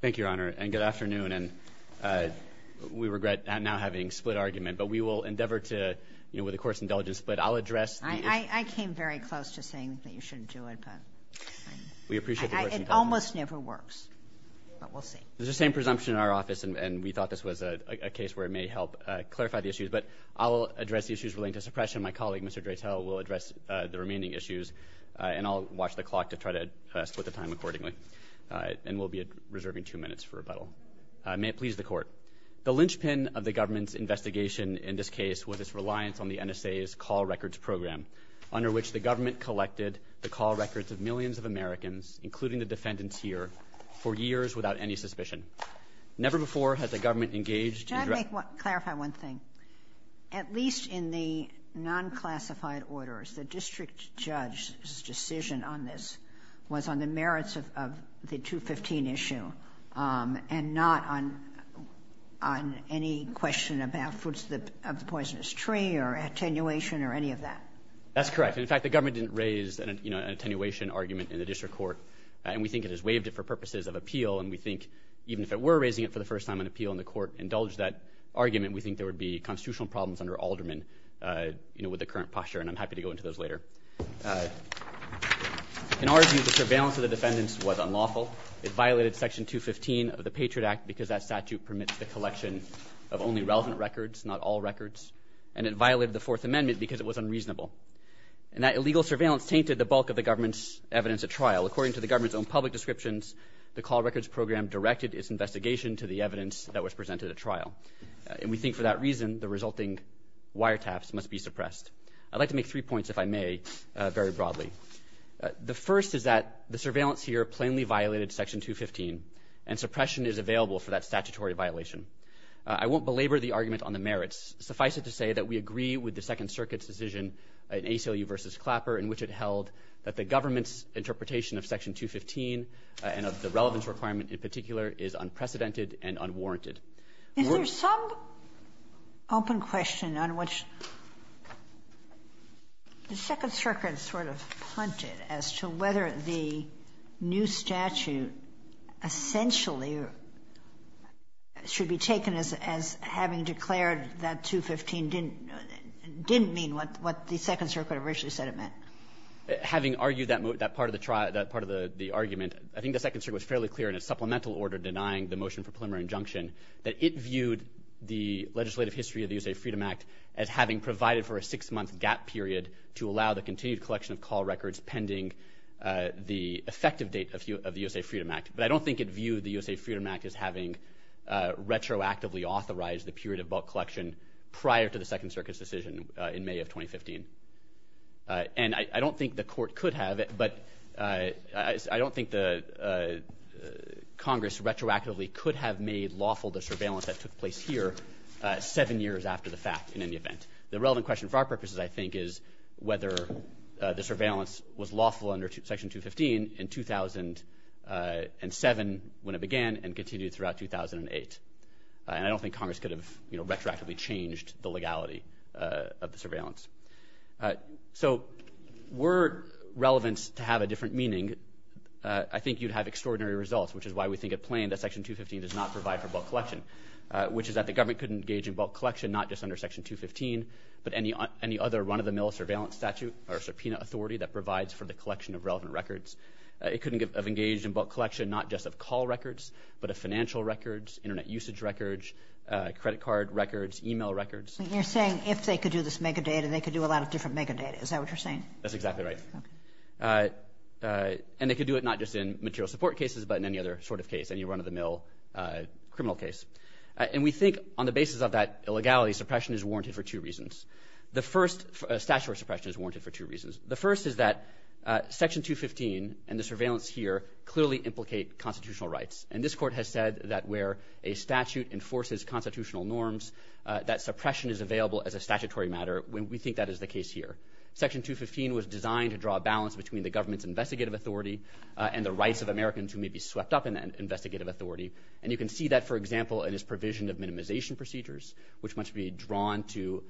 Thank you your honor and good afternoon and we regret now having split argument but we will endeavor to you know with the court's indulgence but I'll address I came very close to saying that you shouldn't do it but we appreciate it almost never works but we'll see there's the same presumption in our office and we thought this was a case where it may help clarify the issues but I'll address the issues relating to suppression my colleague mr. Dratel will address the remaining issues and I'll watch the clock to try to split the time accordingly and we'll be at reserving two minutes for rebuttal may it please the court the linchpin of the government's investigation in this case was its reliance on the NSA's call records program under which the government collected the call records of millions of Americans including the defendants here for years without any suspicion never before has the government engaged clarify one thing at least in the non classified orders the merits of the 215 issue and not on on any question about fruits that of the poisonous tree or attenuation or any of that that's correct in fact the government didn't raise and you know an attenuation argument in the district court and we think it has waived it for purposes of appeal and we think even if it were raising it for the first time an appeal in the court indulge that argument we think there would be constitutional problems under alderman you know with the current posture and I'm happy to go into those later in our surveillance of the defendants was unlawful it violated section 215 of the Patriot Act because that statute permits the collection of only relevant records not all records and it violated the Fourth Amendment because it was unreasonable and that illegal surveillance tainted the bulk of the government's evidence at trial according to the government's own public descriptions the call records program directed its investigation to the evidence that was presented at trial and we think for that reason the resulting wiretaps must be suppressed I'd like to make three points if I may very broadly the first is that the surveillance here plainly violated section 215 and suppression is available for that statutory violation I won't belabor the argument on the merits suffice it to say that we agree with the Second Circuit's decision an ACLU versus Clapper in which it held that the government's interpretation of section 215 and of the relevance requirement in particular is unprecedented and unwarranted there's some open question on which the Second Circuit punted as to whether the new statute essentially should be taken as having declared that 215 didn't didn't mean what what the Second Circuit originally said it meant having argued that move that part of the trial that part of the the argument I think the Second Circuit was fairly clear in a supplemental order denying the motion for preliminary injunction that it viewed the legislative history of the USA Freedom Act as having provided for a six-month gap period to allow the continued collection of call records pending the effective date of you of the USA Freedom Act but I don't think it viewed the USA Freedom Act as having retroactively authorized the period of bulk collection prior to the Second Circuit's decision in May of 2015 and I don't think the court could have it but I don't think the Congress retroactively could have made lawful the surveillance that took place here seven years after the fact in any event the relevant question for our purposes I think is whether the surveillance was lawful under section 215 in 2007 when it began and continued throughout 2008 and I don't think Congress could have you know retroactively changed the legality of the surveillance so were relevance to have a different meaning I think you'd have extraordinary results which is why we think it plain that section 215 does not provide for bulk collection which is that the government could engage in bulk collection not just under section 215 but any on any other run-of-the-mill surveillance statute or subpoena authority that provides for the collection of relevant records it couldn't get of engaged in bulk collection not just of call records but a financial records internet usage records credit card records email records you're saying if they could do this mega data they could do a lot of different mega data is that what you're saying that's exactly right and they could do it not just in material support cases but in any other sort of case and run-of-the-mill criminal case and we think on the basis of that illegality suppression is warranted for two reasons the first statute suppression is warranted for two reasons the first is that section 215 and the surveillance here clearly implicate constitutional rights and this court has said that where a statute enforces constitutional norms that suppression is available as a statutory matter when we think that is the case here section 215 was designed to draw a balance between the government's investigative authority and the rights of Americans who may be swept up in an investigative authority and you can see that for example in his provision of minimization procedures which must be drawn to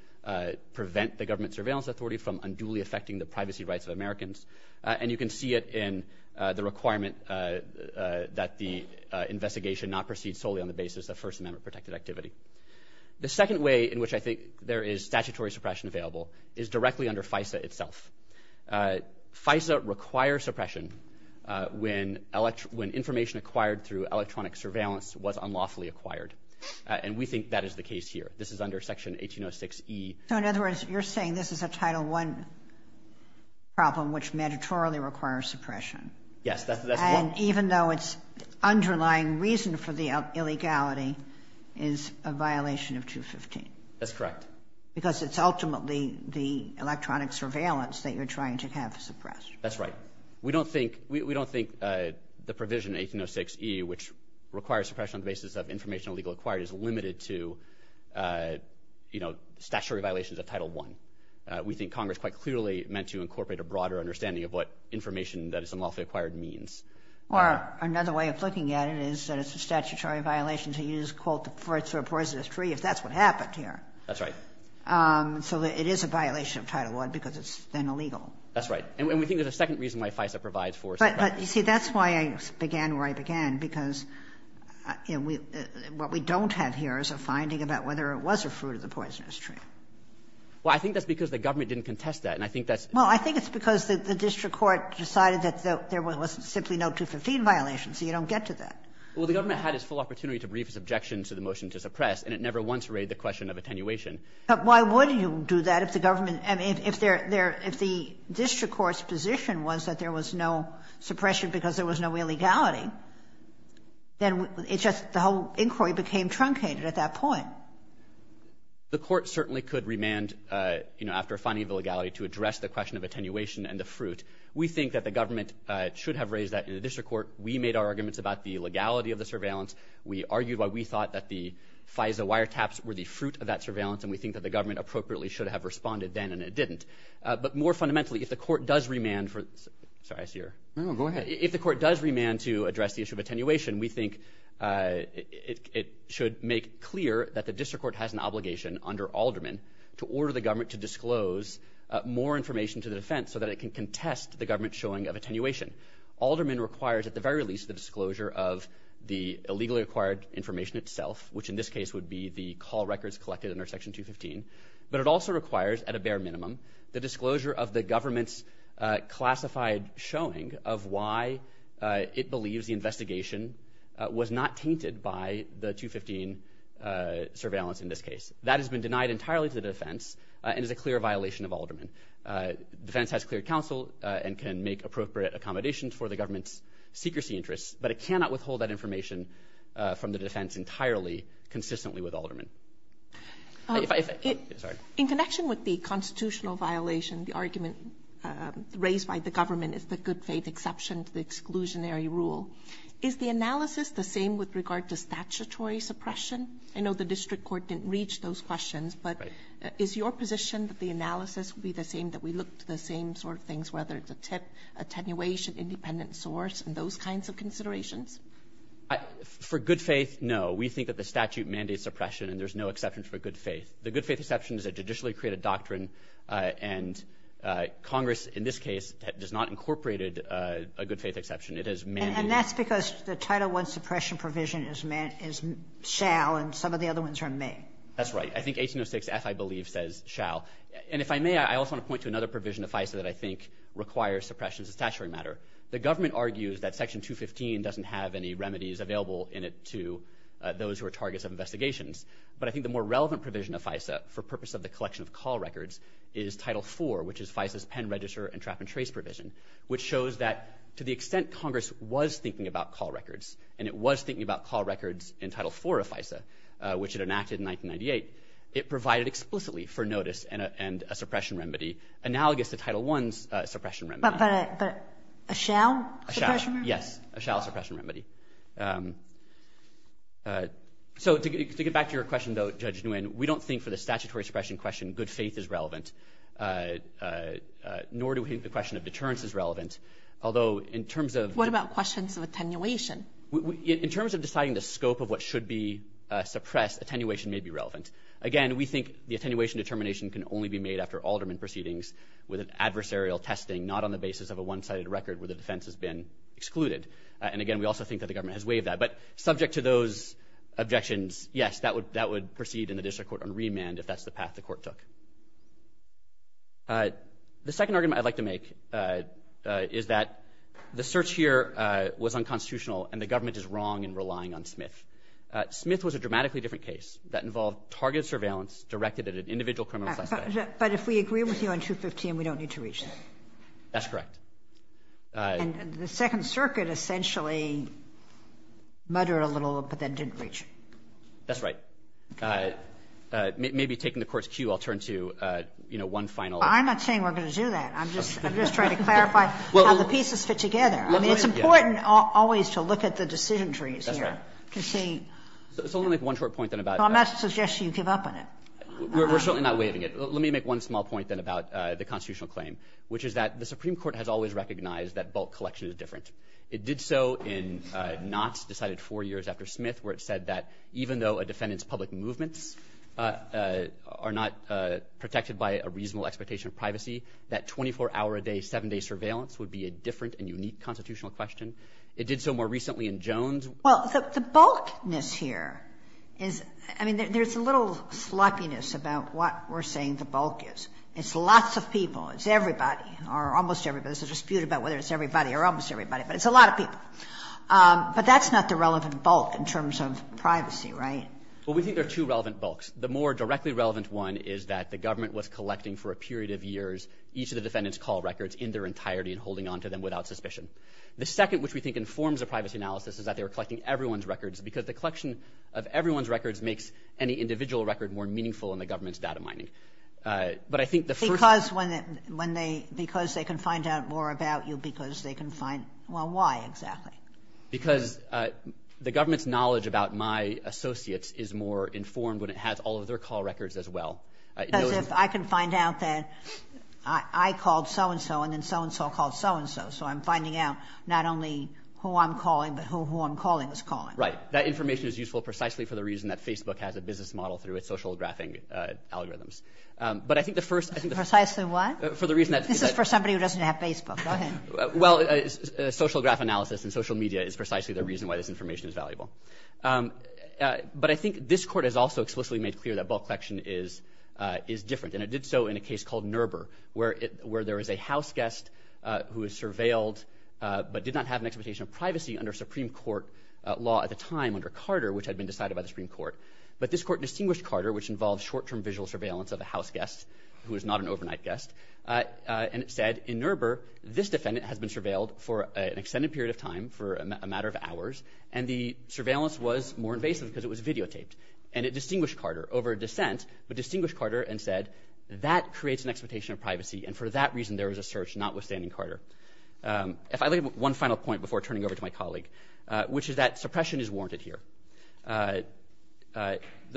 prevent the government surveillance authority from unduly affecting the privacy rights of Americans and you can see it in the requirement that the investigation not proceed solely on the basis of First Amendment protected activity the second way in which I think there is statutory suppression available is directly under FISA itself FISA requires suppression when elect when information acquired through electronic surveillance was unlawfully acquired and we think that is the case here this is under section 1806 e so in other words you're saying this is a title one problem which mandatorily requires suppression yes that's and even though it's underlying reason for the illegality is a violation of 215 that's correct because it's ultimately the electronic surveillance that you're trying to have suppressed that's right we don't think we don't think the provision 1806 e which requires suppression on the basis of information legal acquired is limited to you know statutory violations of title one we think Congress quite clearly meant to incorporate a broader understanding of what information that is unlawfully acquired means or another way of looking at it is that it's a statutory violation to use quote the first or poisonous tree if that's what happened here that's right so it is a violation of title one because it's then illegal that's right and we think there's a second reason why FISA provides for but you see that's why I began where I began because you know we what we don't have here is a finding about whether it was a fruit of the poisonous tree well I think that's because the government didn't contest that and I think that's well I think it's because the district court decided that there was simply no 215 violation so you don't get to that well the government had his full opportunity to brief his objections to the motion to suppress and it never once read the question of attenuation but why would you do that if the government and if they're there if the district courts position was that there was no suppression because there was no illegality then it's just the whole inquiry became truncated at that point the court certainly could remand you know after finding the legality to address the question of attenuation and the fruit we think that the government should have raised that in a district court we made our arguments about the legality of the surveillance we argued why we thought that the FISA wiretaps were the fruit of that surveillance and we think that the but more fundamentally if the court does remand for sorry I see her go ahead if the court does remand to address the issue of attenuation we think it should make clear that the district court has an obligation under alderman to order the government to disclose more information to the defense so that it can contest the government showing of attenuation alderman requires at the very least the disclosure of the illegally acquired information itself which in this case would be the call records collected under section 215 but it also requires at a bare minimum the disclosure of the government's classified showing of why it believes the investigation was not tainted by the 215 surveillance in this case that has been denied entirely to the defense and is a clear violation of alderman defense has clear counsel and can make appropriate accommodations for the government's secrecy interests but it cannot withhold that information from the defense entirely consistently with alderman in connection with the constitutional violation the argument raised by the government is the good faith exception to the exclusionary rule is the analysis the same with regard to statutory suppression I know the district court didn't reach those questions but is your position that the analysis would be the same that we look to the same sort of things whether it's a tip attenuation independent source and those kinds of considerations for good faith no we think that the statute mandates oppression and there's no exceptions for good faith the good faith exceptions that judicially created doctrine and Congress in this case that does not incorporated a good faith exception it is man and that's because the title one suppression provision is meant is shall and some of the other ones are me that's right I think 1806 F I believe says shall and if I may I also want to point to another provision if I said that I think requires suppression statutory matter the government argues that section 215 doesn't have any remedies available in it to those who are targets of investigations but I think the more relevant provision of FISA for purpose of the collection of call records is title 4 which is FISA pen register and trap-and-trace provision which shows that to the extent Congress was thinking about call records and it was thinking about call records in title 4 of FISA which it enacted in 1998 it provided explicitly for notice and a suppression remedy analogous to title ones suppression but a shell yes a shall suppression remedy so to get back to your question though judge new and we don't think for the statutory suppression question good faith is relevant nor do we think the question of deterrence is relevant although in terms of what about questions of attenuation in terms of deciding the scope of what should be suppressed attenuation may be relevant again we think the attenuation determination can only be made after alderman proceedings with an adversarial testing not on the basis of a one-sided record where the defense has been excluded and again we also think that the government has waived that but subject to those objections yes that would that would proceed in the district court on remand if that's the path the court took the second argument I'd like to make is that the search here was unconstitutional and the government is wrong in relying on Smith Smith was a dramatically different case that individual criminals but if we agree with you on 215 we don't need to reach that that's correct and the Second Circuit essentially mutter a little but then didn't reach that's right maybe taking the court's cue I'll turn to you know one final I'm not saying we're gonna do that I'm just I'm just trying to clarify well the pieces fit together I mean it's important always to look at the decision trees here to see it's only like one short point then about I'm not suggesting you give up on it we're certainly not waiving it let me make one small point then about the constitutional claim which is that the Supreme Court has always recognized that bulk collection is different it did so in knots decided four years after Smith where it said that even though a defendant's public movements are not protected by a reasonable expectation of privacy that 24-hour a day seven-day surveillance would be a different and unique constitutional question it did so more recently in Jones well the bulkness here is I mean there's a little sloppiness about what we're saying the bulk is it's lots of people it's everybody or almost everybody's a dispute about whether it's everybody or almost everybody but it's a lot of people but that's not the relevant bulk in terms of privacy right well we think there are two relevant books the more directly relevant one is that the government was collecting for a period of years each of the defendants call records in their entirety and holding on to them without suspicion the second which we think informs a privacy analysis is that they were collecting everyone's records makes any individual record more meaningful in the government's data mining but I think the first cause when when they because they can find out more about you because they can find well why exactly because the government's knowledge about my associates is more informed when it has all of their call records as well if I can find out that I called so-and-so and then so-and-so called so-and-so so I'm finding out not only who I'm calling but who who I'm calling is calling right that information is useful precisely for the reason that Facebook has a business model through its social graphing algorithms but I think the first thing precisely why for the reason that this is for somebody who doesn't have Facebook well it's a social graph analysis and social media is precisely the reason why this information is valuable but I think this court has also explicitly made clear that bulk collection is is different and it did so in a case called Nurbur where it where there is a houseguest who is surveilled but did not have an expectation of law at the time under Carter which had been decided by the Supreme Court but this court distinguished Carter which involves short-term visual surveillance of a houseguest who is not an overnight guest and it said in Nurbur this defendant has been surveilled for an extended period of time for a matter of hours and the surveillance was more invasive because it was videotaped and it distinguished Carter over a dissent but distinguished Carter and said that creates an expectation of privacy and for that reason there was a search not withstanding Carter if I leave one final point before turning over to my that suppression is warranted here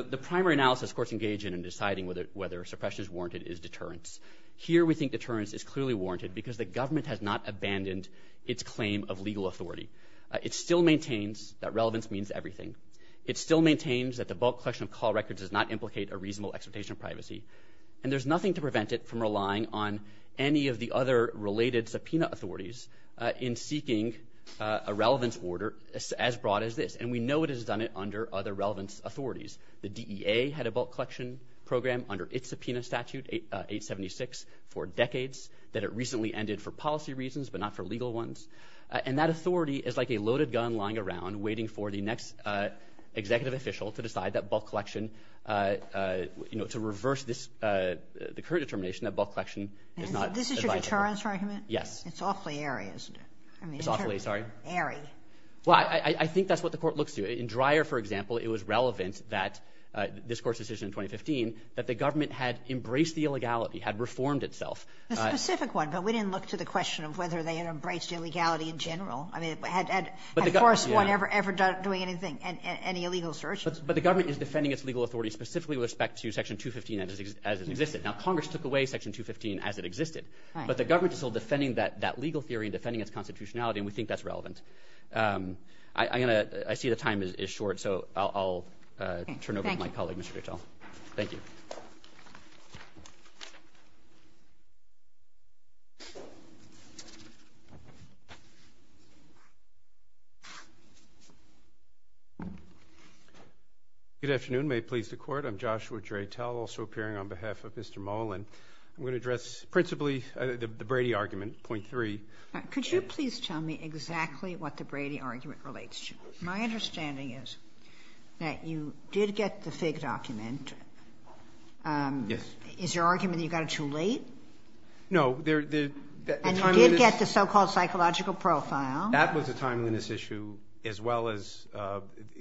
the primary analysis courts engage in and deciding whether whether suppression is warranted is deterrence here we think deterrence is clearly warranted because the government has not abandoned its claim of legal authority it still maintains that relevance means everything it still maintains that the bulk collection of call records does not implicate a reasonable expectation of privacy and there's nothing to prevent it from relying on any of the other related subpoena authorities in seeking a relevance order as broad as this and we know it has done it under other relevance authorities the DEA had a bulk collection program under its subpoena statute 876 for decades that it recently ended for policy reasons but not for legal ones and that authority is like a loaded gun lying around waiting for the next executive official to decide that bulk collection you know to reverse this the current determination that bulk collection this is your deterrence argument yes it's awfully areas it's awfully sorry airy well I think that's what the court looks to in Dreyer for example it was relevant that this course decision in 2015 that the government had embraced the illegality had reformed itself a specific one but we didn't look to the question of whether they had embraced illegality in general I mean I had but they got worse one ever ever done doing anything and any illegal search but the government is defending its legal authority specifically with respect to section 215 as it existed now the government is still defending that that legal theory defending its constitutionality and we think that's relevant I'm gonna I see the time is short so I'll turn over my colleague mr. Mitchell thank you good afternoon may it please the court I'm Joshua Dreytel also appearing on the Brady argument 0.3 could you please tell me exactly what the Brady argument relates to my understanding is that you did get the fig document yes is your argument you got it too late no there did get the so-called psychological profile that was a timeliness issue as well as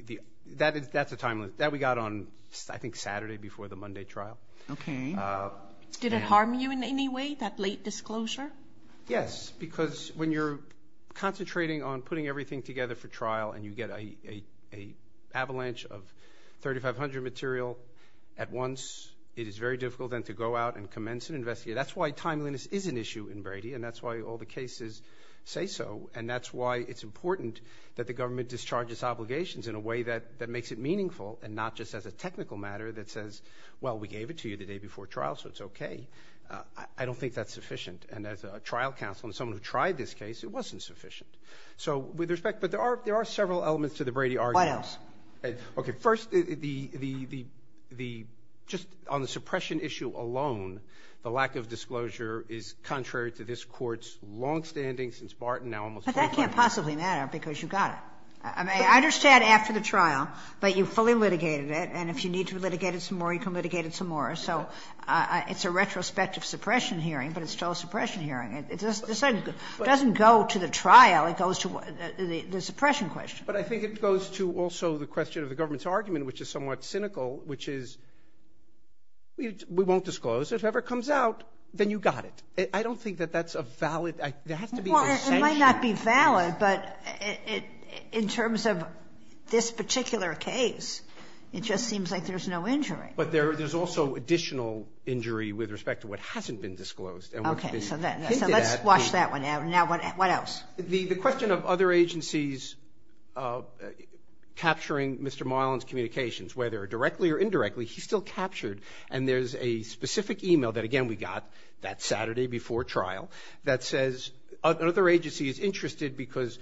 the that is that's a timeless that we got on I think Saturday before the Monday trial okay did it harm you in any way that late disclosure yes because when you're concentrating on putting everything together for trial and you get a avalanche of 3,500 material at once it is very difficult than to go out and commence an investigator that's why timeliness is an issue in Brady and that's why all the cases say so and that's why it's important that the government discharges obligations in a way that that makes it meaningful and not just as a technical matter that says well we gave it to you the day before trial so it's okay I don't think that's sufficient and as a trial counsel and someone who tried this case it wasn't sufficient so with respect but there are there are several elements to the Brady articles okay first the the the the just on the suppression issue alone the lack of disclosure is contrary to this courts long-standing since Barton now almost that can't possibly matter because you got it I mean I understand after the trial but you fully litigated it and if you need to litigate it some more you can litigate it some more so it's a retrospective suppression hearing but it's still suppression hearing it just doesn't go to the trial it goes to what the suppression question but I think it goes to also the question of the government's argument which is somewhat cynical which is we won't disclose if ever comes out then you got it I don't think that that's a valid might not be valid but it in terms of this particular case it just seems like there's no injury but there there's also additional injury with respect to what hasn't been disclosed and let's watch that one out now what else the the question of other agencies capturing mr. Marlins communications whether directly or indirectly he's still captured and there's a specific email that again we got that Saturday before trial that says another agency is interested because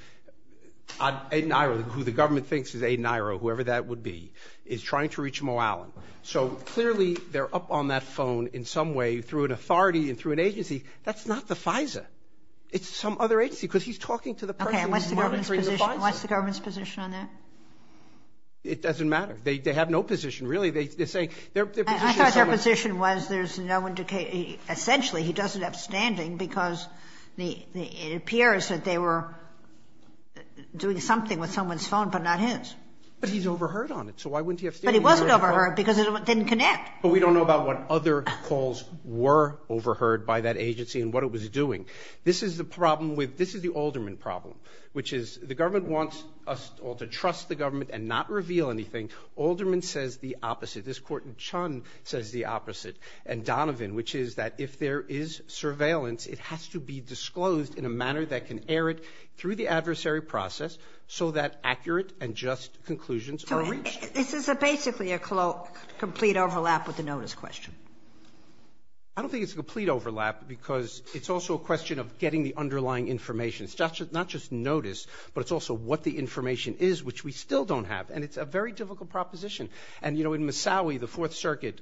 I'm in Ireland who the government thinks is a Naira whoever that would be is trying to reach Mo Allen so clearly they're up on that phone in some way through an authority and through an agency that's not the FISA it's some other agency because he's talking to the president what's the government's position on that it doesn't matter they have no position really they say their position was there's no indication essentially he doesn't have standing because the it appears that they were doing something with someone's phone but not his but he's overheard on it so why wouldn't he have but he wasn't over her because it didn't connect but we don't know about what other calls were overheard by that agency and what it was doing this is the problem with this is the alderman problem which is the government wants us all to trust the this court in Chun says the opposite and Donovan which is that if there is surveillance it has to be disclosed in a manner that can air it through the adversary process so that accurate and just conclusions this is a basically a cloak complete overlap with the notice question I don't think it's a complete overlap because it's also a question of getting the underlying information it's just not just notice but it's also what the information is which we still don't have and it's a very difficult proposition and you know in Missouri the Fourth Circuit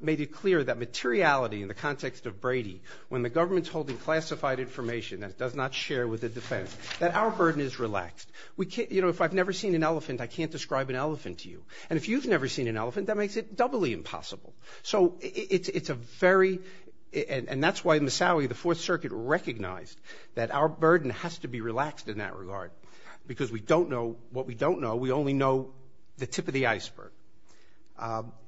made it clear that materiality in the context of Brady when the government's holding classified information that does not share with the defense that our burden is relaxed we can't you know if I've never seen an elephant I can't describe an elephant to you and if you've never seen an elephant that makes it doubly impossible so it's it's a very and that's why Missouri the Fourth Circuit recognized that our burden has to be relaxed in that regard because we don't know what we don't know we only know the tip of the iceberg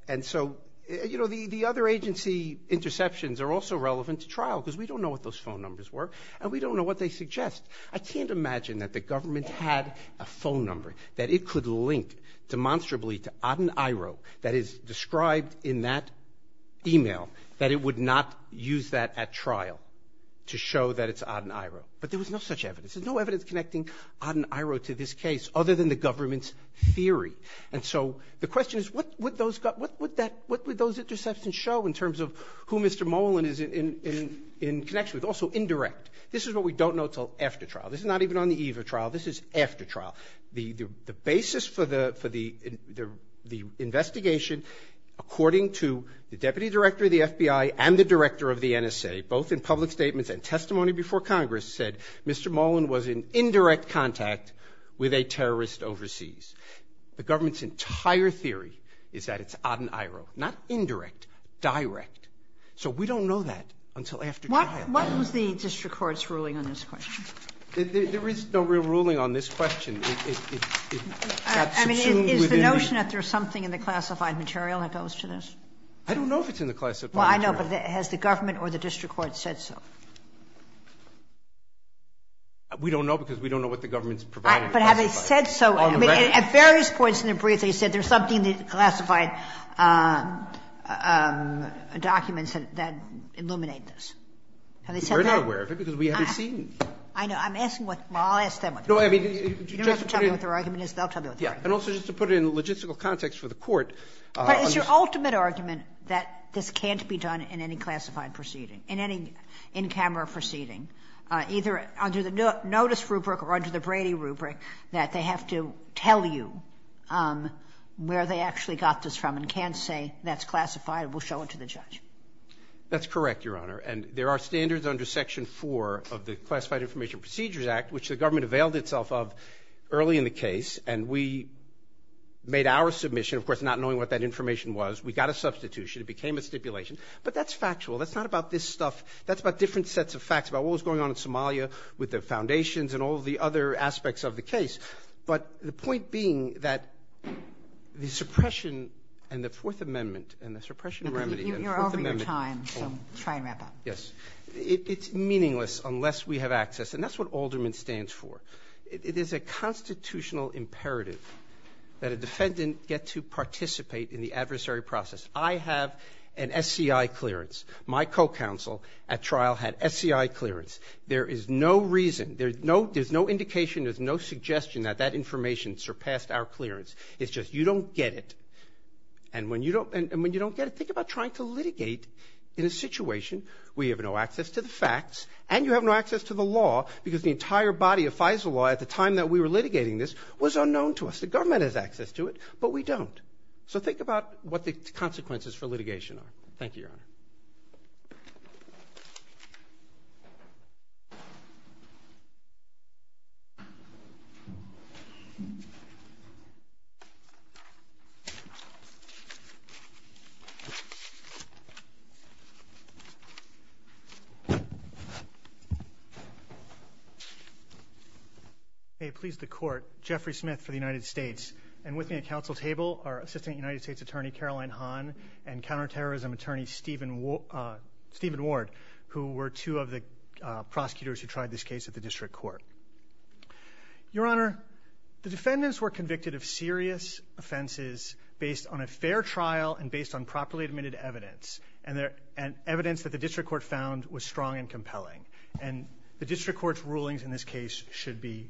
and so you know the the other agency interceptions are also relevant to trial because we don't know what those phone numbers were and we don't know what they suggest I can't imagine that the government had a phone number that it could link demonstrably to Aden Iroh that is described in that email that it would not use that at trial to show that it's Aden Iroh but there was no such evidence there's no evidence connecting Aden Iroh to this case other than the government's theory and so the question is what would those got what would that what would those interceptions show in terms of who Mr. Molan is in in in connection with also indirect this is what we don't know till after trial this is not even on the eve of trial this is after trial the the basis for the for the the investigation according to the deputy director of the FBI and the director of the NSA both in public statements and testimony before Congress said Mr. Molan was in indirect contact with a terrorist overseas the government's entire theory is that it's Aden Iroh not indirect direct so we don't know that until after what what was the district courts ruling on this question there is no real ruling on this question I mean is the notion that there's something in the classified material that goes to this I don't know if it's in the class I know but it has the government or the district court said so we don't know because we don't know what the government's provided but have they said so at various points in the brief they said there's something that classified documents that illuminate this and they said they're not aware of it because we haven't seen I know I'm asking what well I'll ask them what no I mean you don't have to tell me what their argument is they'll tell me what their argument is and also just to put it in logistical context for the court but it's your ultimate argument that this can't be done in any classified proceeding in any in-camera proceeding either under the notice rubric or under the Brady rubric that they have to tell you where they actually got this from and can't say that's classified we'll show it to the judge that's correct your honor and there are standards under section 4 of the Classified Information Procedures Act which the government availed itself of early in the case and we made our submission of course not knowing what that information was we got a substitution it became a stipulation but that's factual that's not about this stuff that's about different sets of facts about what was going on in Somalia with the foundations and all the other aspects of the case but the point being that the suppression and the Fourth Amendment and the suppression remedy you're over your time so try and wrap up yes it's meaningless unless we have access and that's what Alderman stands for it is a constitutional imperative that a defendant get to participate in the adversary process I have an SCI clearance my co-counsel at trial had SCI clearance there is no reason there's no there's no indication there's no suggestion that that information surpassed our clearance it's just you don't get it and when you don't and when you don't get it think about trying to litigate in a situation we have no access to the facts and you have no body of FISA law at the time that we were litigating this was unknown to us the government has access to it but we don't so think about what the consequences for litigation are thank you hey please the court Jeffrey Smith for the United States and with me a council table our assistant United States Attorney Caroline Hahn and counterterrorism attorney Stephen Stephen Ward who were two of the prosecutors who tried this case at the district court your honor the defendants were convicted of serious offenses based on a fair trial and based on properly admitted evidence and there and evidence that the district court found was strong and compelling and the district court's rulings in this case should be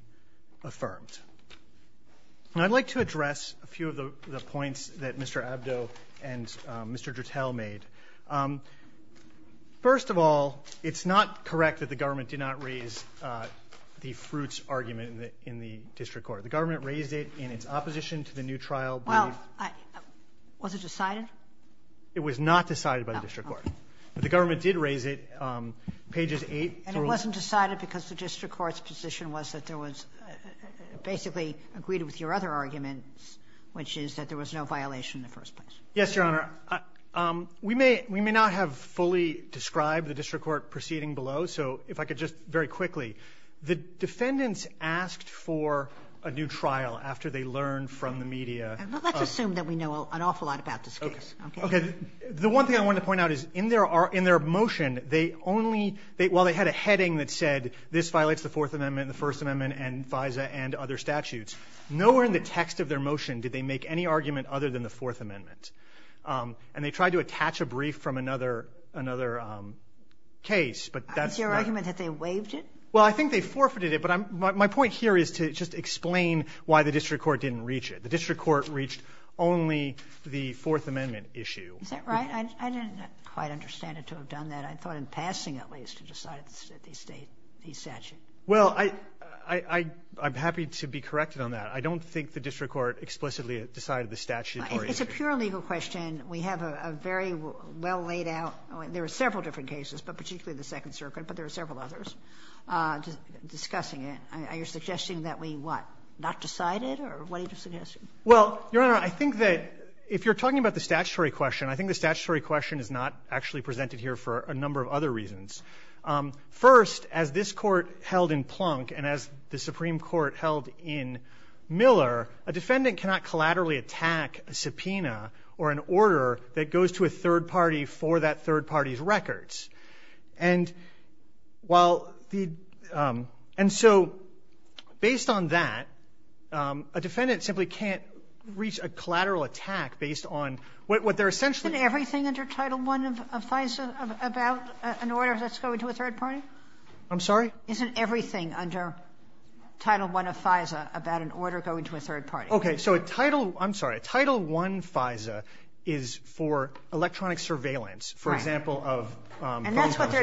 affirmed and I'd like to address a few of the points that mr. Abdo and mr. Gertel made first of all it's not correct that the government did not raise the fruits argument in the in the district court the government raised it in its opposition to the new trial well I was it decided it was not decided by the court the government did raise it pages 8 and it wasn't decided because the district court's position was that there was basically agreed with your other arguments which is that there was no violation in the first place yes your honor we may we may not have fully described the district court proceeding below so if I could just very quickly the defendants asked for a new trial after they learned from the media let's assume that we know an awful lot about the one thing I want to point out is in there are in their motion they only they well they had a heading that said this violates the Fourth Amendment the First Amendment and FISA and other statutes nowhere in the text of their motion did they make any argument other than the Fourth Amendment and they tried to attach a brief from another another case but that's your argument that they waived it well I think they forfeited it but I'm my point here is to just explain why the district court didn't reach it the district court reached only the Fourth Amendment issue that right I didn't quite understand it to have done that I thought in passing at least to decide the state he said well I I I'm happy to be corrected on that I don't think the district court explicitly decided the statute it's a pure legal question we have a very well laid out there are several different cases but particularly the Second Circuit but decided well I think that if you're talking about the statutory question I think the statutory question is not actually presented here for a number of other reasons first as this court held in Plunk and as the Supreme Court held in Miller a defendant cannot collaterally attack a subpoena or an order that goes to a third party for that third party's records and while the and so based on that a defendant simply can't reach a collateral attack based on what they're essentially everything under title one of FISA about an order that's going to a third party I'm sorry isn't everything under title one of FISA about an order going to a third party okay so a title I'm sorry a title one FISA is for electronic surveillance for example of and that's what they're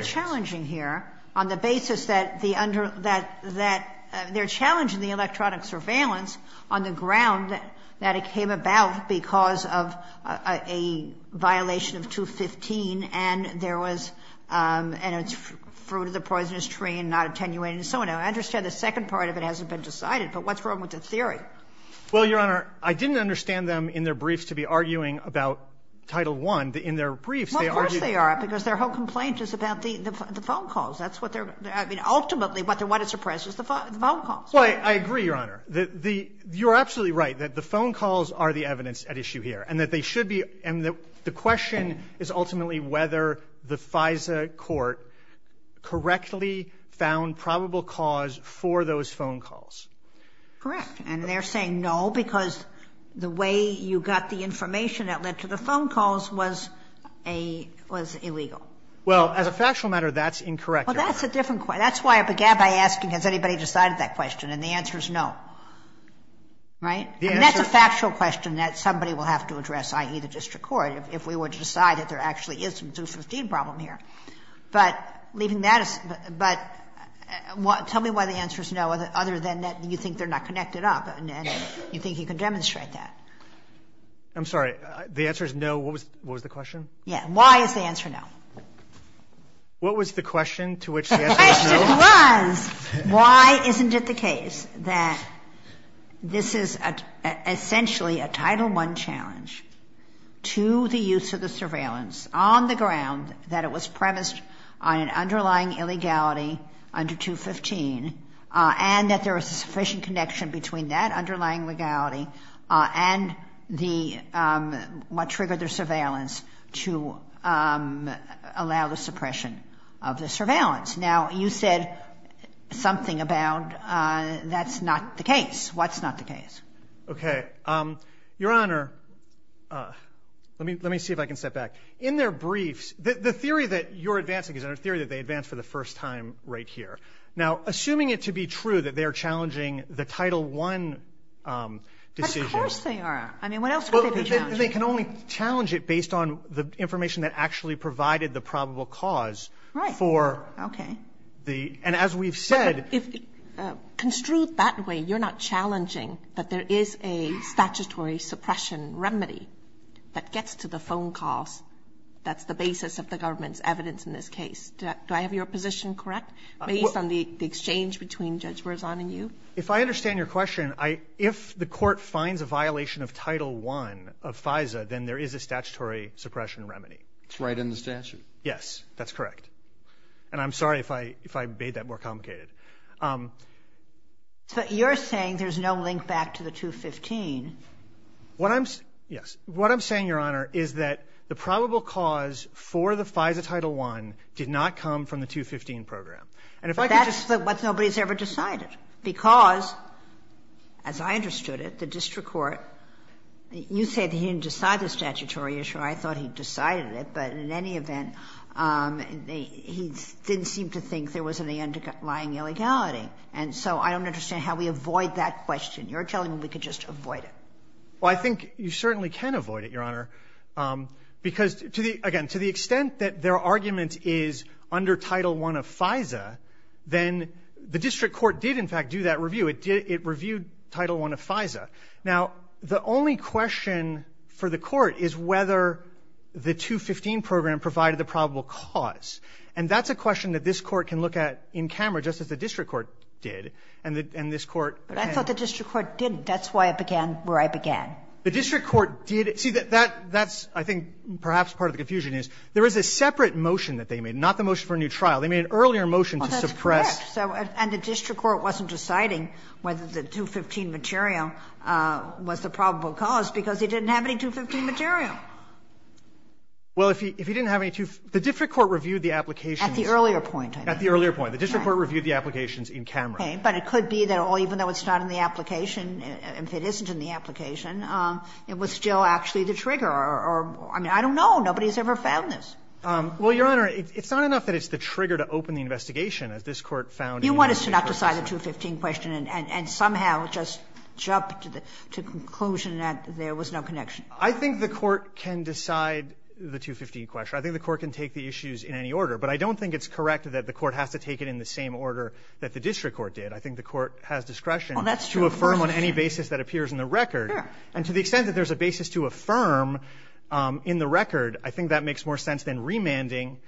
under that that they're challenging the electronic surveillance on the ground that it came about because of a violation of 215 and there was and it's fruit of the poisonous tree and not attenuating so now I understand the second part of it hasn't been decided but what's wrong with the theory well your honor I didn't understand them in their briefs to be arguing about title one in their briefs they are because their whole complaint is about the the phone calls that's what they're I mean ultimately what they want to suppress is the phone calls well I agree your honor that the you're absolutely right that the phone calls are the evidence at issue here and that they should be and that the question is ultimately whether the FISA court correctly found probable cause for those phone calls correct and they're saying no because the way you got the information that led to the phone calls was a was illegal well as a factual matter that's incorrect well that's a different point that's why I began by asking has anybody decided that question and the answer is no right yeah that's a factual question that somebody will have to address ie the district court if we were to decide that there actually is some 2015 problem here but leaving that is but what tell me why the answer is no other than that you think they're not connected up and you think you can I'm sorry the answer is no what was the question yeah why is the answer no what was the question to which why isn't it the case that this is a essentially a title one challenge to the use of the surveillance on the ground that it was premised on an underlying illegality under 215 and that there is a sufficient connection between that underlying legality and the what triggered their surveillance to allow the suppression of the surveillance now you said something about that's not the case what's not the case okay your honor let me let me see if I can step back in their briefs the theory that you're advancing is our theory that they advanced for the first time right here now assuming it to be true that they are challenging the title one decision they are I mean what else they can only challenge it based on the information that actually provided the probable cause right for okay the and as we've said if construed that way you're not challenging that there is a statutory suppression remedy that gets to the phone calls that's the basis of the government's evidence in this case do I have your position correct based on the exchange between judge Verzon and you if I understand your question I if the court finds a violation of title one of FISA then there is a statutory suppression remedy it's right in the statute yes that's correct and I'm sorry if I if I made that more complicated but you're saying there's no link back to the 215 what I'm yes what I'm saying your honor is that the probable cause for the FISA title one did not come from the 215 program and if I that's what nobody's ever decided because as I understood it the district court you said he didn't decide the statutory issue I thought he decided it but in any event he didn't seem to think there was any underlying illegality and so I don't understand how we avoid that question you're telling me we could just avoid it well I think you certainly can avoid it your honor because to the again to the extent that their argument is under title one of FISA then the district court did in fact do that review it did it reviewed title one of FISA now the only question for the court is whether the 215 program provided the probable cause and that's a question that this court can look at in camera just as the district court did and that and this court I thought the district court didn't that's why I began where I began the district court did it see that that that's I think perhaps part of the confusion is there is a separate motion that they made not the motion for a new trial they made an earlier motion to suppress so and the district court wasn't deciding whether the 215 material was the probable cause because he didn't have any 215 material well if he if he didn't have any to the district court reviewed the application at the earlier point at the earlier point the district court reviewed the applications in camera okay but it could be that all even though it's not in the application and if it isn't in the application it was still actually the trigger or I mean I don't know nobody's ever found this well your honor it's not enough that it's the trigger to open the investigation as this court found you want us to not decide the 215 question and somehow just jump to the to conclusion that there was no connection I think the court can decide the 215 question I think the court can take the issues in any order but I don't think it's correct that the court has to take it in the same order that the district court did I think the court has discretion that's true affirm on any basis that appears in the record and to the extent that there's a basis to affirm in the record I think that makes more sense than remanding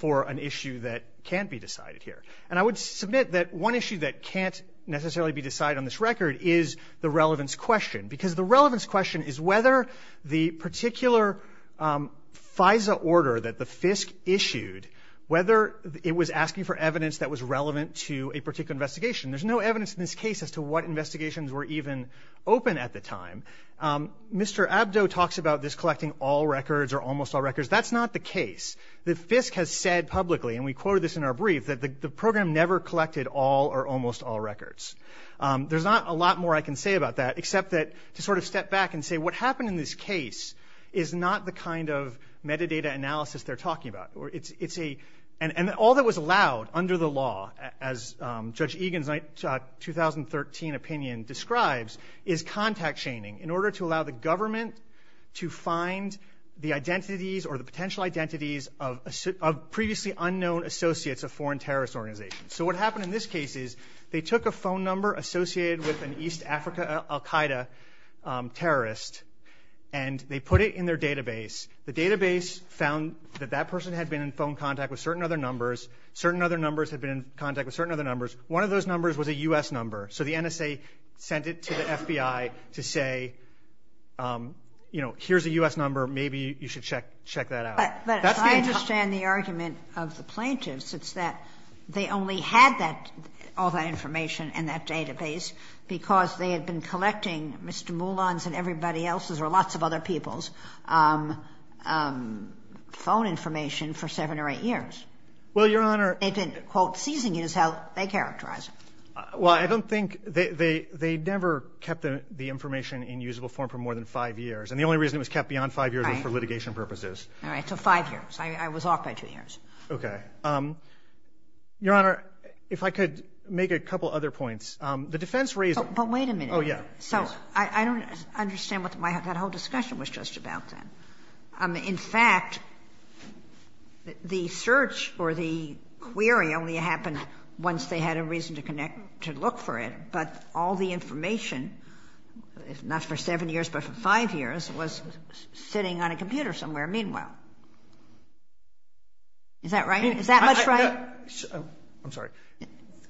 for an issue that can't be decided here and I would submit that one issue that can't necessarily be decided on this record is the relevance question because the relevance question is whether this case was issued whether it was asking for evidence that was relevant to a particular investigation there's no evidence in this case as to what investigations were even open at the time Mr. Abdo talks about this collecting all records or almost all records that's not the case the FISC has said publicly and we quoted this in our brief that the program never collected all or almost all records there's not a lot more I can say about that except that to sort of step back and say what happened in this case is not the kind of metadata analysis they're talking about or it's it's a and and all that was allowed under the law as Judge Egan's 2013 opinion describes is contact shaming in order to allow the government to find the identities or the potential identities of a suit of previously unknown associates of foreign terrorist organizations so what happened in this case is they took a phone number associated with an East Africa Al Qaeda terrorist and they put it in their database the database found that that person had been in phone contact with certain other numbers certain other numbers had been in contact with certain other numbers one of those numbers was a US number so the NSA sent it to the FBI to say you know here's a US number maybe you should check check that out I understand the argument of the plaintiffs it's that they only had that all that information and that database because they had been collecting Mr. Moulin's and everybody else's or lots of other people's phone information for seven or eight years well your honor they didn't quote seizing is how they characterize well I don't think they they they never kept the information in usable form for more than five years and the only reason it was kept beyond five years for litigation purposes all right so five years I was off by two years okay your honor if I could make a couple other points the defense reason but wait a minute oh yeah so I don't understand what that whole discussion was just about then in fact the search or the query only happened once they had a reason to connect to look for it but all the information if not for seven years but for five years was sitting on a computer somewhere meanwhile is that right is that I'm sorry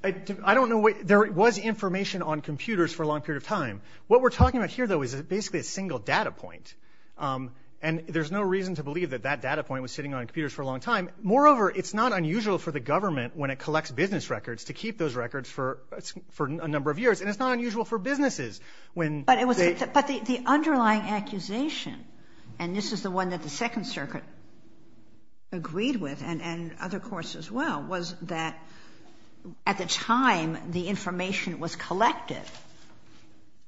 I don't know what there was information on computers for a long period of time what we're talking about here though is basically a single data point and there's no reason to believe that that data point was sitting on computers for a long time moreover it's not unusual for the government when it collects business records to keep those records for for a number of years and it's not unusual for businesses when but it was but the underlying accusation and this is the one that the Second Circuit agreed with and and other courts as well was that at the time the information was collected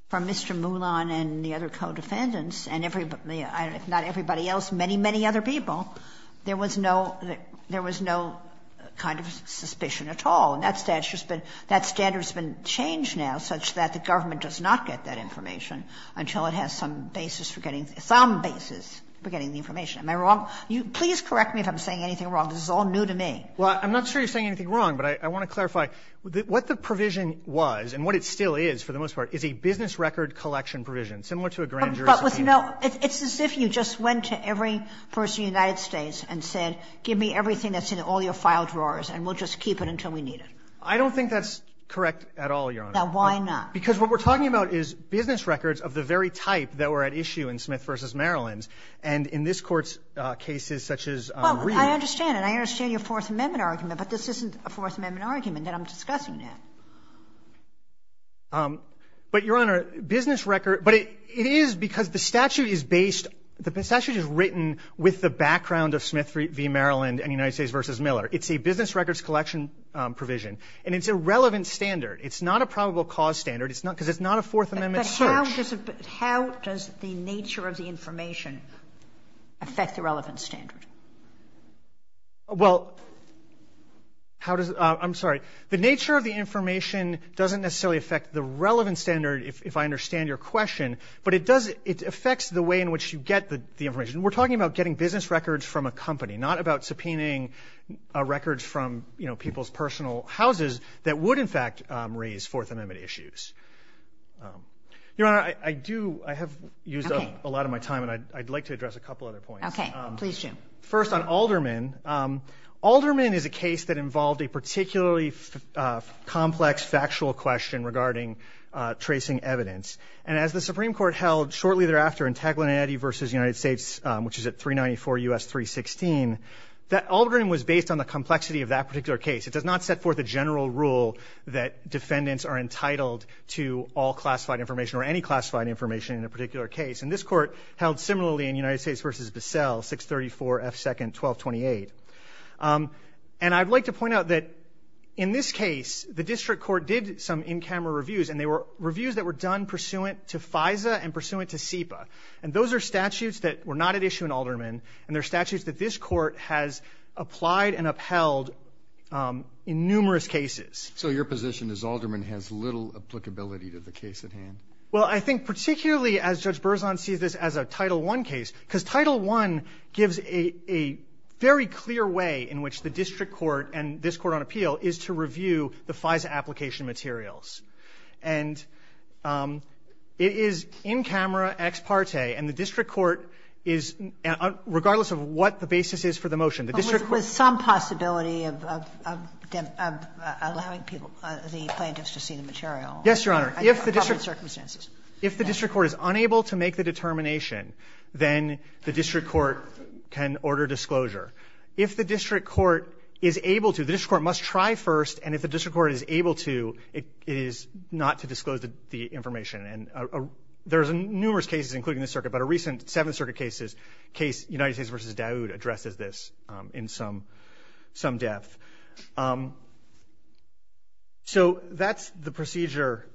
from Mr. Moulin and the other co-defendants and everybody I don't know if not everybody else many many other people there was no that there was no kind of suspicion at all and that's that's just been that standards been changed now such that the government does not get that information until it has some basis for getting some basis for getting the information am I wrong you please correct me if I'm saying anything wrong this is all new to me well I'm not sure you're saying anything wrong but I want to clarify what the provision was and what it still is for the most part is a business record collection provision similar to a grand jury but with no it's as if you just went to every person United States and said give me everything that's in all your file drawers and we'll just keep it until we need it I don't think that's correct at all your now why not because what we're talking about is business records of the very type that were at issue in Smith versus Maryland's and in this court's cases such as I understand and I understand your Fourth Amendment argument but this isn't a Fourth Amendment argument that I'm discussing now but your honor business record but it is because the statute is based the passage is written with the background of Smith v. Maryland and United States versus Miller it's a business records collection provision and it's a relevant standard it's not a probable cause standard it's not because it's not a Fourth Amendment so how does the nature of the information affect the relevant standard well how does I'm sorry the nature of the information doesn't necessarily affect the relevant standard if I understand your question but it does it affects the way in which you get the information we're talking about getting business records from a company not about subpoenaing records from you know people's personal houses that would in fact raise Fourth Amendment issues your honor I do I have used a lot of my time and I'd like to address a couple other points okay please Jim first on Alderman Alderman is a case that involved a particularly complex factual question regarding tracing evidence and as the Supreme Court held shortly thereafter in Taglinetti versus United States which is at 394 U.S. 316 that Alderman was based on the complexity of that particular case it does not set forth a general rule that defendants are entitled to all classified information or any classified information in a particular case and this Court held similarly in United States versus Bissell 634 F second 1228 and I'd like to point out that in this case the district court did some in camera reviews and they were reviews that were done pursuant to FISA and pursuant to SEPA and those are statutes that were not at issue in Alderman and their statutes that this Court has applied and upheld in numerous cases. So your position is Alderman has little applicability to the case at hand? Well, I think particularly as Judge Berzon sees this as a Title I case because Title I gives a very clear way in which the district court and this Court on appeal is to review the FISA application materials and it is in camera ex parte and the district court is regardless of what the basis is for the motion. But with some possibility of allowing people, the plaintiffs to see the material? Yes, Your Honor. If the district court is unable to make the determination, then the district court can order disclosure. If the district court is able to, the district court must try first and if the district court is able to, it is not to disclose the information and there's numerous cases including this circuit, but a recent Seventh Circuit case, United States v. Daoud, addresses this in some depth. So that's the procedure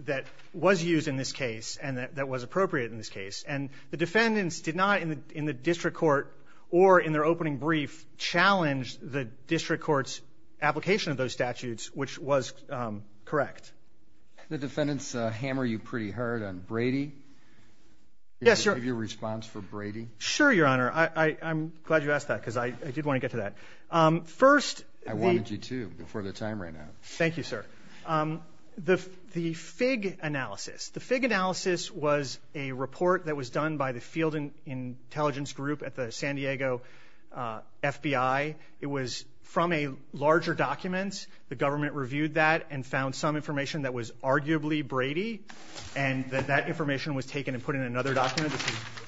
that was used in this case and that was appropriate in this case. And the defendants did not in the district court or in their opening brief challenge the district court's application of those statutes, which was correct. The defendants hammered you pretty hard on Brady. Yes, Your Honor. Can you give your response for Brady? Sure, Your Honor. I'm glad you asked that because I did want to get to that. First, the... I wanted you to before the time ran out. Thank you, sir. The FIG analysis, the FIG analysis was a report that was done by the field intelligence group at the San Diego FBI. It was from a larger document, the government reviewed that and found some information that was arguably Brady and that that information was taken and put in another document,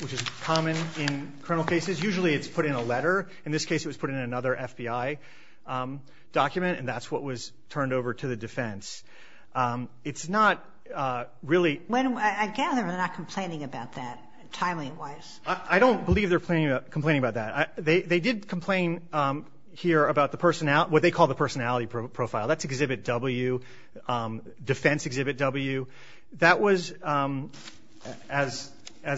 which is common in criminal cases. Usually it's put in a letter. In this case, it was put in another FBI document and that's what was turned over to the defense. It's not really... I gather they're not complaining about that, timing-wise. I don't believe they're complaining about that. They did complain here about what they call the personality profile. That's exhibit W, defense exhibit W. That was, as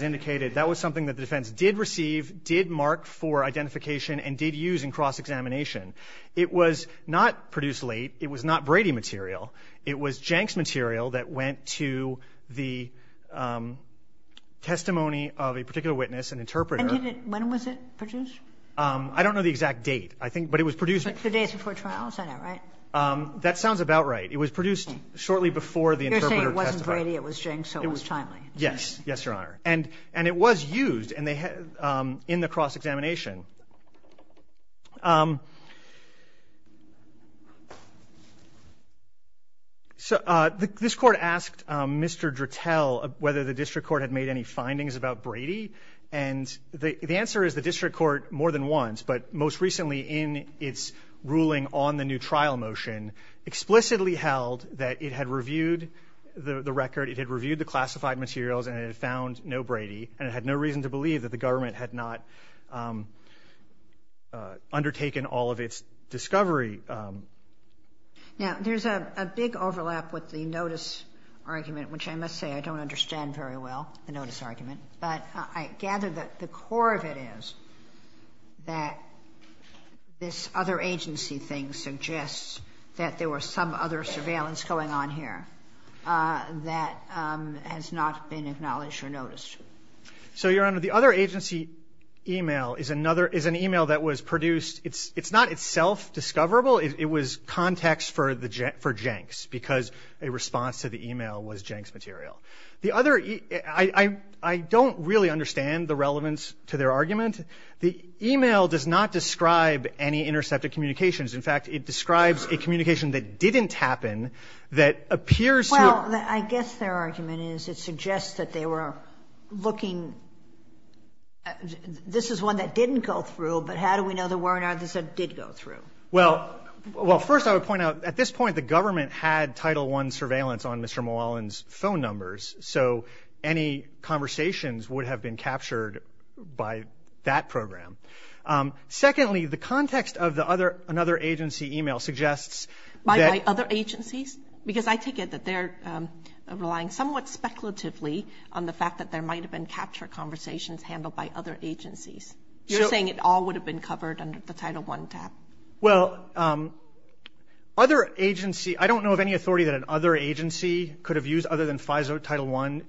indicated, that was something that the defense did receive, did mark for identification, and did use in cross-examination. It was not produced late. It was not Brady material. It was Jenks material that went to the testimony of a particular witness, an interpreter. When was it produced? I don't know the exact date, but it was produced... The days before trial? That sounds about right. It was produced shortly before the interpreter testified. You're saying it wasn't Brady, it was Jenks, so it was timely. Yes, Your Honor. And it was used in the cross-examination. This court asked Mr. Drittel whether the district court had made any findings about Brady. And the answer is the district court more than once, but most recently in its ruling on the new trial motion, explicitly held that it had reviewed the record, it had reviewed the classified materials, and it had found no Brady. And it had no reason to believe that the government had not undertaken all of its discovery. Now, there's a big overlap with the notice argument, which I must say I don't understand very well, the notice argument, but I gather that the core of it is that this other agency thing suggests that there was some other surveillance going on here that has not been acknowledged or noticed. So, Your Honor, the other agency email is an email that was produced. It's not itself discoverable. It was context for Jenks, because a response to the email was Jenks material. The other – I don't really understand the relevance to their argument. The email does not describe any intercepted communications. In fact, it describes a communication that didn't happen that appears to – Well, I guess their argument is it suggests that they were looking – this is one that didn't go through, but how do we know there weren't others that did go through? Well, first I would point out, at this point, the government had Title I surveillance on Mr. Mulallen's phone numbers, so any conversations would have been captured by that program. Secondly, the context of another agency email suggests that – By other agencies? Because I take it that they're relying somewhat speculatively on the fact that there might have been capture conversations handled by other agencies. You're saying it all would have been covered under the Title I tab. Well, other agency – I don't know of any authority that an other agency could have used other than FISA Title I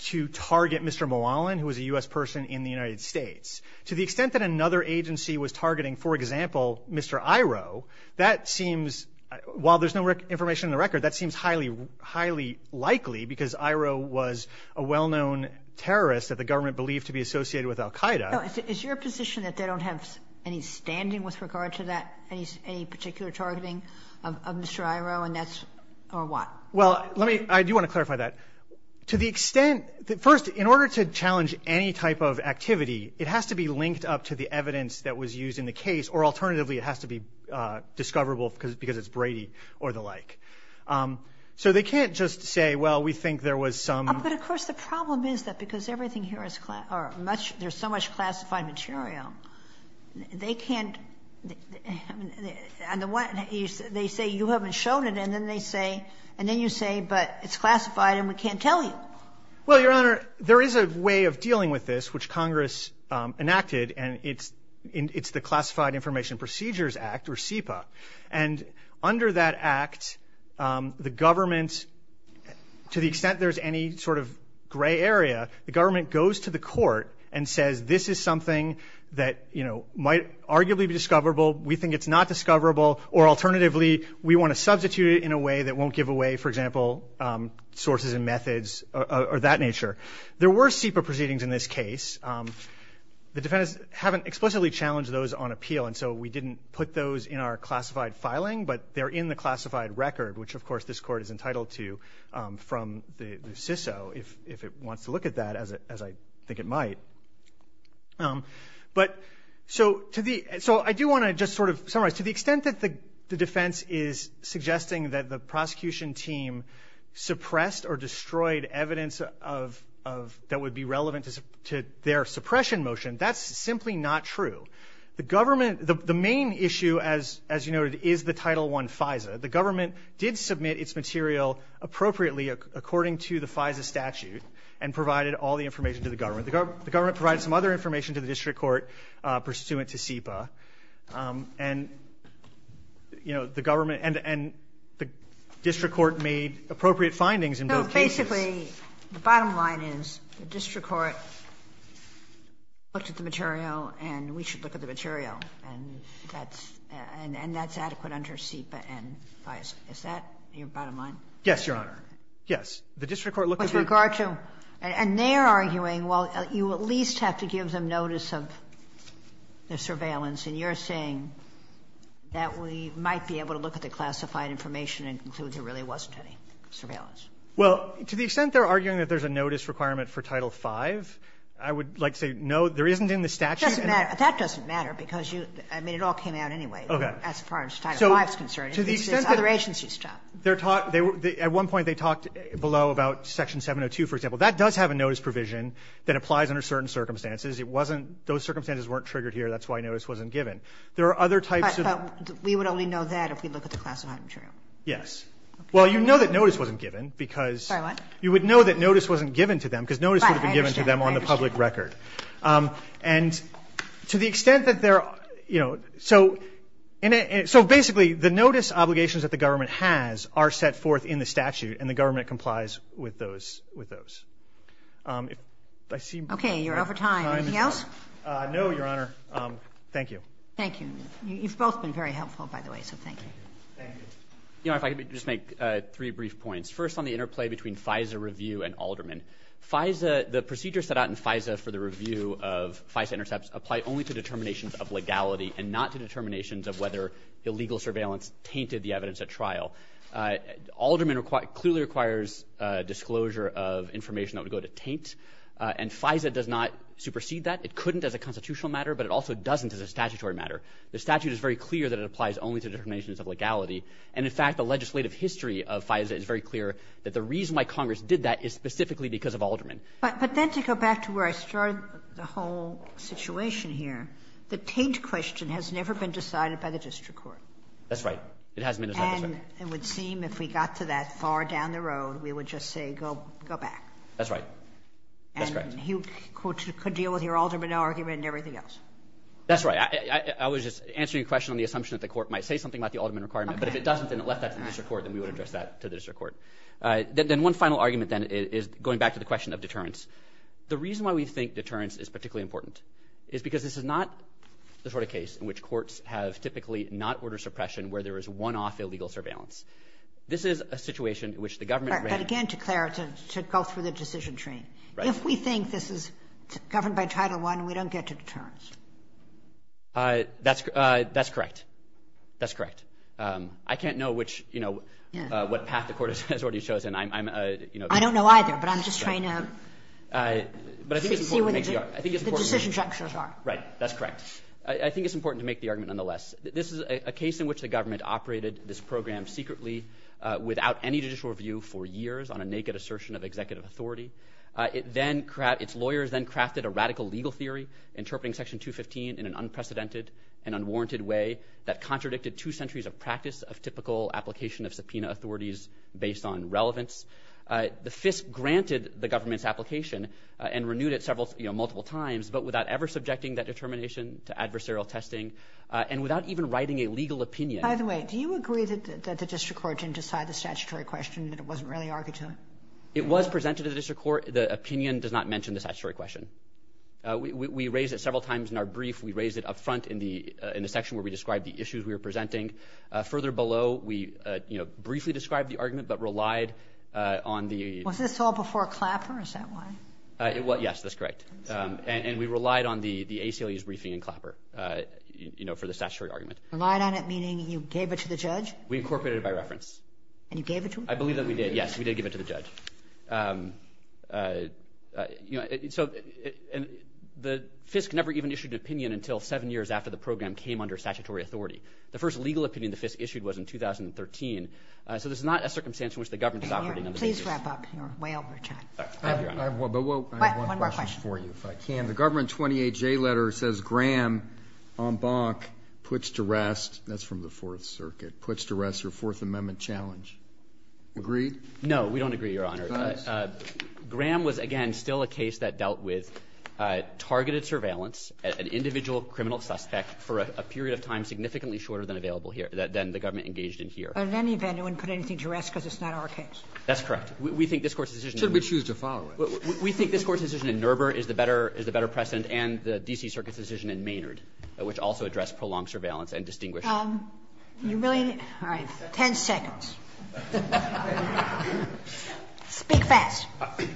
to target Mr. Mulallen, who was a U.S. person in the United States. To the extent that another agency was targeting, for example, Mr. Iroh, that seems – while there's no information in the record, that seems highly likely, because Iroh was a well-known terrorist that the government believed to be associated with al-Qaida. Is your position that they don't have any standing with regard to that, any particular targeting of Mr. Iroh, and that's – or what? Well, let me – I do want to clarify that. To the extent – first, in order to challenge any type of activity, it has to be linked up to the evidence that was used in the case, or alternatively, it has to be discoverable because it's Brady or the like. So they can't just say, well, we think there was some – But, of course, the problem is that because everything here is – or much – there's so much classified material, they can't – and the one – they say you haven't shown it, and then they say – and then you say, but it's classified and we can't tell you. Well, Your Honor, there is a way of dealing with this, which Congress enacted, and it's the Classified Information Procedures Act, or CIPA. And under that act, the government – to the extent there's any sort of gray area, the government goes to the court and says this is something that, you know, might arguably be discoverable, we think it's not discoverable, or alternatively, we want to substitute it in a way that won't give away, for example, sources and methods or that nature. There were CIPA proceedings in this case. The defendants haven't explicitly challenged those on appeal, and so we didn't put those in our classified filing, but they're in the classified record, which, of course, this court is entitled to from the CISO, if it wants to look at that, as I think it might. But – so to the – so I do want to just sort of summarize. To the extent that the defense is suggesting that the prosecution team suppressed or destroyed evidence of – that would be relevant to their suppression motion, that's simply not true. The government – the main issue, as you noted, is the Title I FISA. The government did submit its material appropriately, according to the FISA statute, and provided all the information to the government. The government provided some other information to the district court, pursuant to CIPA, and, you know, the government – and the district court made appropriate findings in both cases. So basically, the bottom line is the district court looked at the material, and we should look at the material, and that's adequate under CIPA and FISA. Is that your bottom line? Yes, Your Honor. The district court looked at the – With regard to – and they're arguing, well, you at least have to give them notice of the surveillance, and you're saying that we might be able to look at the classified information and conclude there really wasn't any surveillance. Well, to the extent they're arguing that there's a notice requirement for Title V, I would like to say, no, there isn't in the statute. That doesn't matter, because you – I mean, it all came out anyway. Okay. As far as Title V is concerned. To the extent that – This is other agency stuff. They're – at one point, they talked below about Section 702, for example. That does have a notice provision that applies under certain circumstances. It wasn't – those circumstances weren't triggered here. That's why notice wasn't given. There are other types of – But we would only know that if we look at the classified material. Yes. Well, you know that notice wasn't given, because – Sorry, what? You would know that notice wasn't given to them, because notice would have been given to them on the public record. I understand. I understand. And to the extent that they're – you know, so – so basically, the notice obligations that the government has are set forth in the statute, and the government complies with those. I see – Okay. You're over time. Anything else? No, Your Honor. Thank you. Thank you. You've both been very helpful, by the way, so thank you. Thank you. Your Honor, if I could just make three brief points. First on the interplay between FISA review and Alderman. FISA – the procedures set out in FISA for the review of FISA intercepts apply only to determinations of legality and not to determinations of whether illegal surveillance tainted the evidence at trial. Alderman clearly requires disclosure of information that would go to taint, and FISA does not supersede that. It couldn't as a constitutional matter, but it also doesn't as a statutory matter. The statute is very clear that it applies only to determinations of legality, and in the legislative history of FISA, it is very clear that the reason why Congress did that is specifically because of Alderman. But then to go back to where I started the whole situation here, the taint question has never been decided by the district court. That's right. It hasn't been decided. And it would seem if we got to that far down the road, we would just say go back. That's right. That's correct. And you could deal with your Alderman argument and everything else. That's right. I was just answering your question on the assumption that the Court might say something about the Alderman requirement. Okay. If it doesn't, then it left that to the district court, and we would address that to the district court. Then one final argument, then, is going back to the question of deterrence. The reason why we think deterrence is particularly important is because this is not the sort of case in which courts have typically not ordered suppression where there is one-off illegal surveillance. This is a situation in which the government ran – But again, to clarify, to go through the decision train. Right. If we think this is governed by Title I, we don't get to deterrence. That's correct. That's correct. I can't know which – what path the Court has already chosen. I'm – I don't know either, but I'm just trying to see what the decision structures are. Right. That's correct. I think it's important to make the argument nonetheless. This is a case in which the government operated this program secretly without any judicial review for years on a naked assertion of executive authority. Its lawyers then crafted a radical legal theory interpreting Section 215 in an unprecedented and unwarranted way that contradicted two centuries of practice of typical application of subpoena authorities based on relevance. The FISP granted the government's application and renewed it several – multiple times, but without ever subjecting that determination to adversarial testing and without even writing a legal opinion. By the way, do you agree that the district court didn't decide the statutory question and that it wasn't really argued to? It was presented to the district court. The opinion does not mention the statutory question. We raise it several times in our brief. We raise it up front in the – in the section where we describe the issues we were presenting. Further below, we briefly described the argument but relied on the – Was this all before Clapper? Is that why? Well, yes. That's correct. And we relied on the ACLU's briefing in Clapper for the statutory argument. Relied on it, meaning you gave it to the judge? We incorporated it by reference. And you gave it to him? I believe that we did, yes. We did give it to the judge. You know, so – and the FISC never even issued an opinion until seven years after the program came under statutory authority. The first legal opinion the FISC issued was in 2013, so this is not a circumstance in which the government is operating on the basis – Please wrap up. You're way over time. I have one – One more question. I have one question for you, if I can. The Government 28J letter says Graham, en banc, puts to rest – that's from the Fourth Circuit – puts to rest her Fourth Amendment challenge. Agreed? No. We don't agree, Your Honor. Graham was, again, still a case that dealt with targeted surveillance at an individual criminal suspect for a period of time significantly shorter than available here – than the government engaged in here. But in any event, it wouldn't put anything to rest because it's not our case. That's correct. We think this Court's decision – Should we choose to follow it? We think this Court's decision in Nurbur is the better precedent, and the D.C. Circuit's decision in Maynard, which also addressed prolonged surveillance and distinguished – You really – all right. Ten seconds. Speak fast.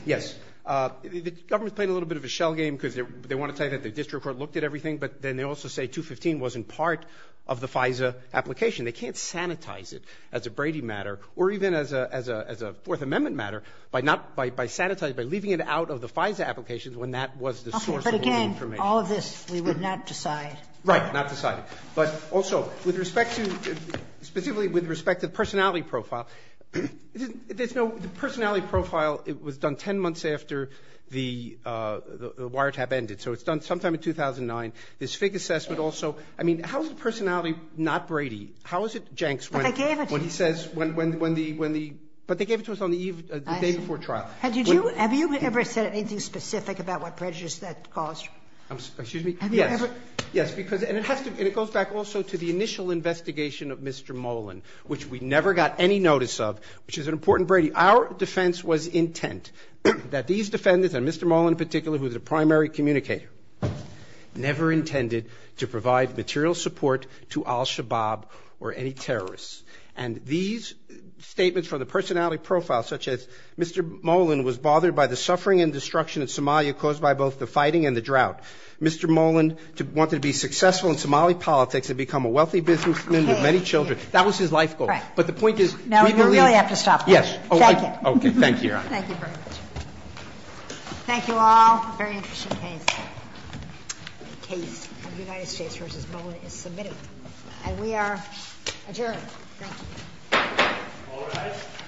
Yes. The government played a little bit of a shell game because they want to tell you that the district court looked at everything, but then they also say 215 wasn't part of the FISA application. They can't sanitize it as a Brady matter or even as a Fourth Amendment matter by not – by sanitizing – by leaving it out of the FISA applications when that was the source of all the information. Okay. But again, all of this we would not decide. Right. Not decide it. But also, with respect to – specifically with respect to the personality profile, there's no – the personality profile, it was done 10 months after the wiretap ended. So it's done sometime in 2009. This FIG assessment also – I mean, how is the personality not Brady? How is it Jenks when – But they gave it to us. When he says – when the – but they gave it to us on the day before trial. Have you ever said anything specific about what prejudice that caused? Excuse me? Yes. Have you ever – Yes, because – and it has to – and it goes back also to the initial investigation of Mr. Molan, which we never got any notice of, which is an important Brady. Our defense was intent that these defendants, and Mr. Molan in particular, who is a primary communicator, never intended to provide material support to al-Shabaab or any terrorists. And these statements from the personality profile, such as Mr. Molan was bothered by the suffering and destruction in Somalia caused by both the fighting and the drought. Mr. Molan wanted to be successful in Somali politics and become a wealthy businessman with many children. That was his life goal. Right. But the point is – No, you really have to stop. Yes. Thank you. Okay. Thank you, Your Honor. Thank you very much. Thank you all. Very interesting case. The case of United States v. Molan is submitted. And we are adjourned. Thank you. All rise.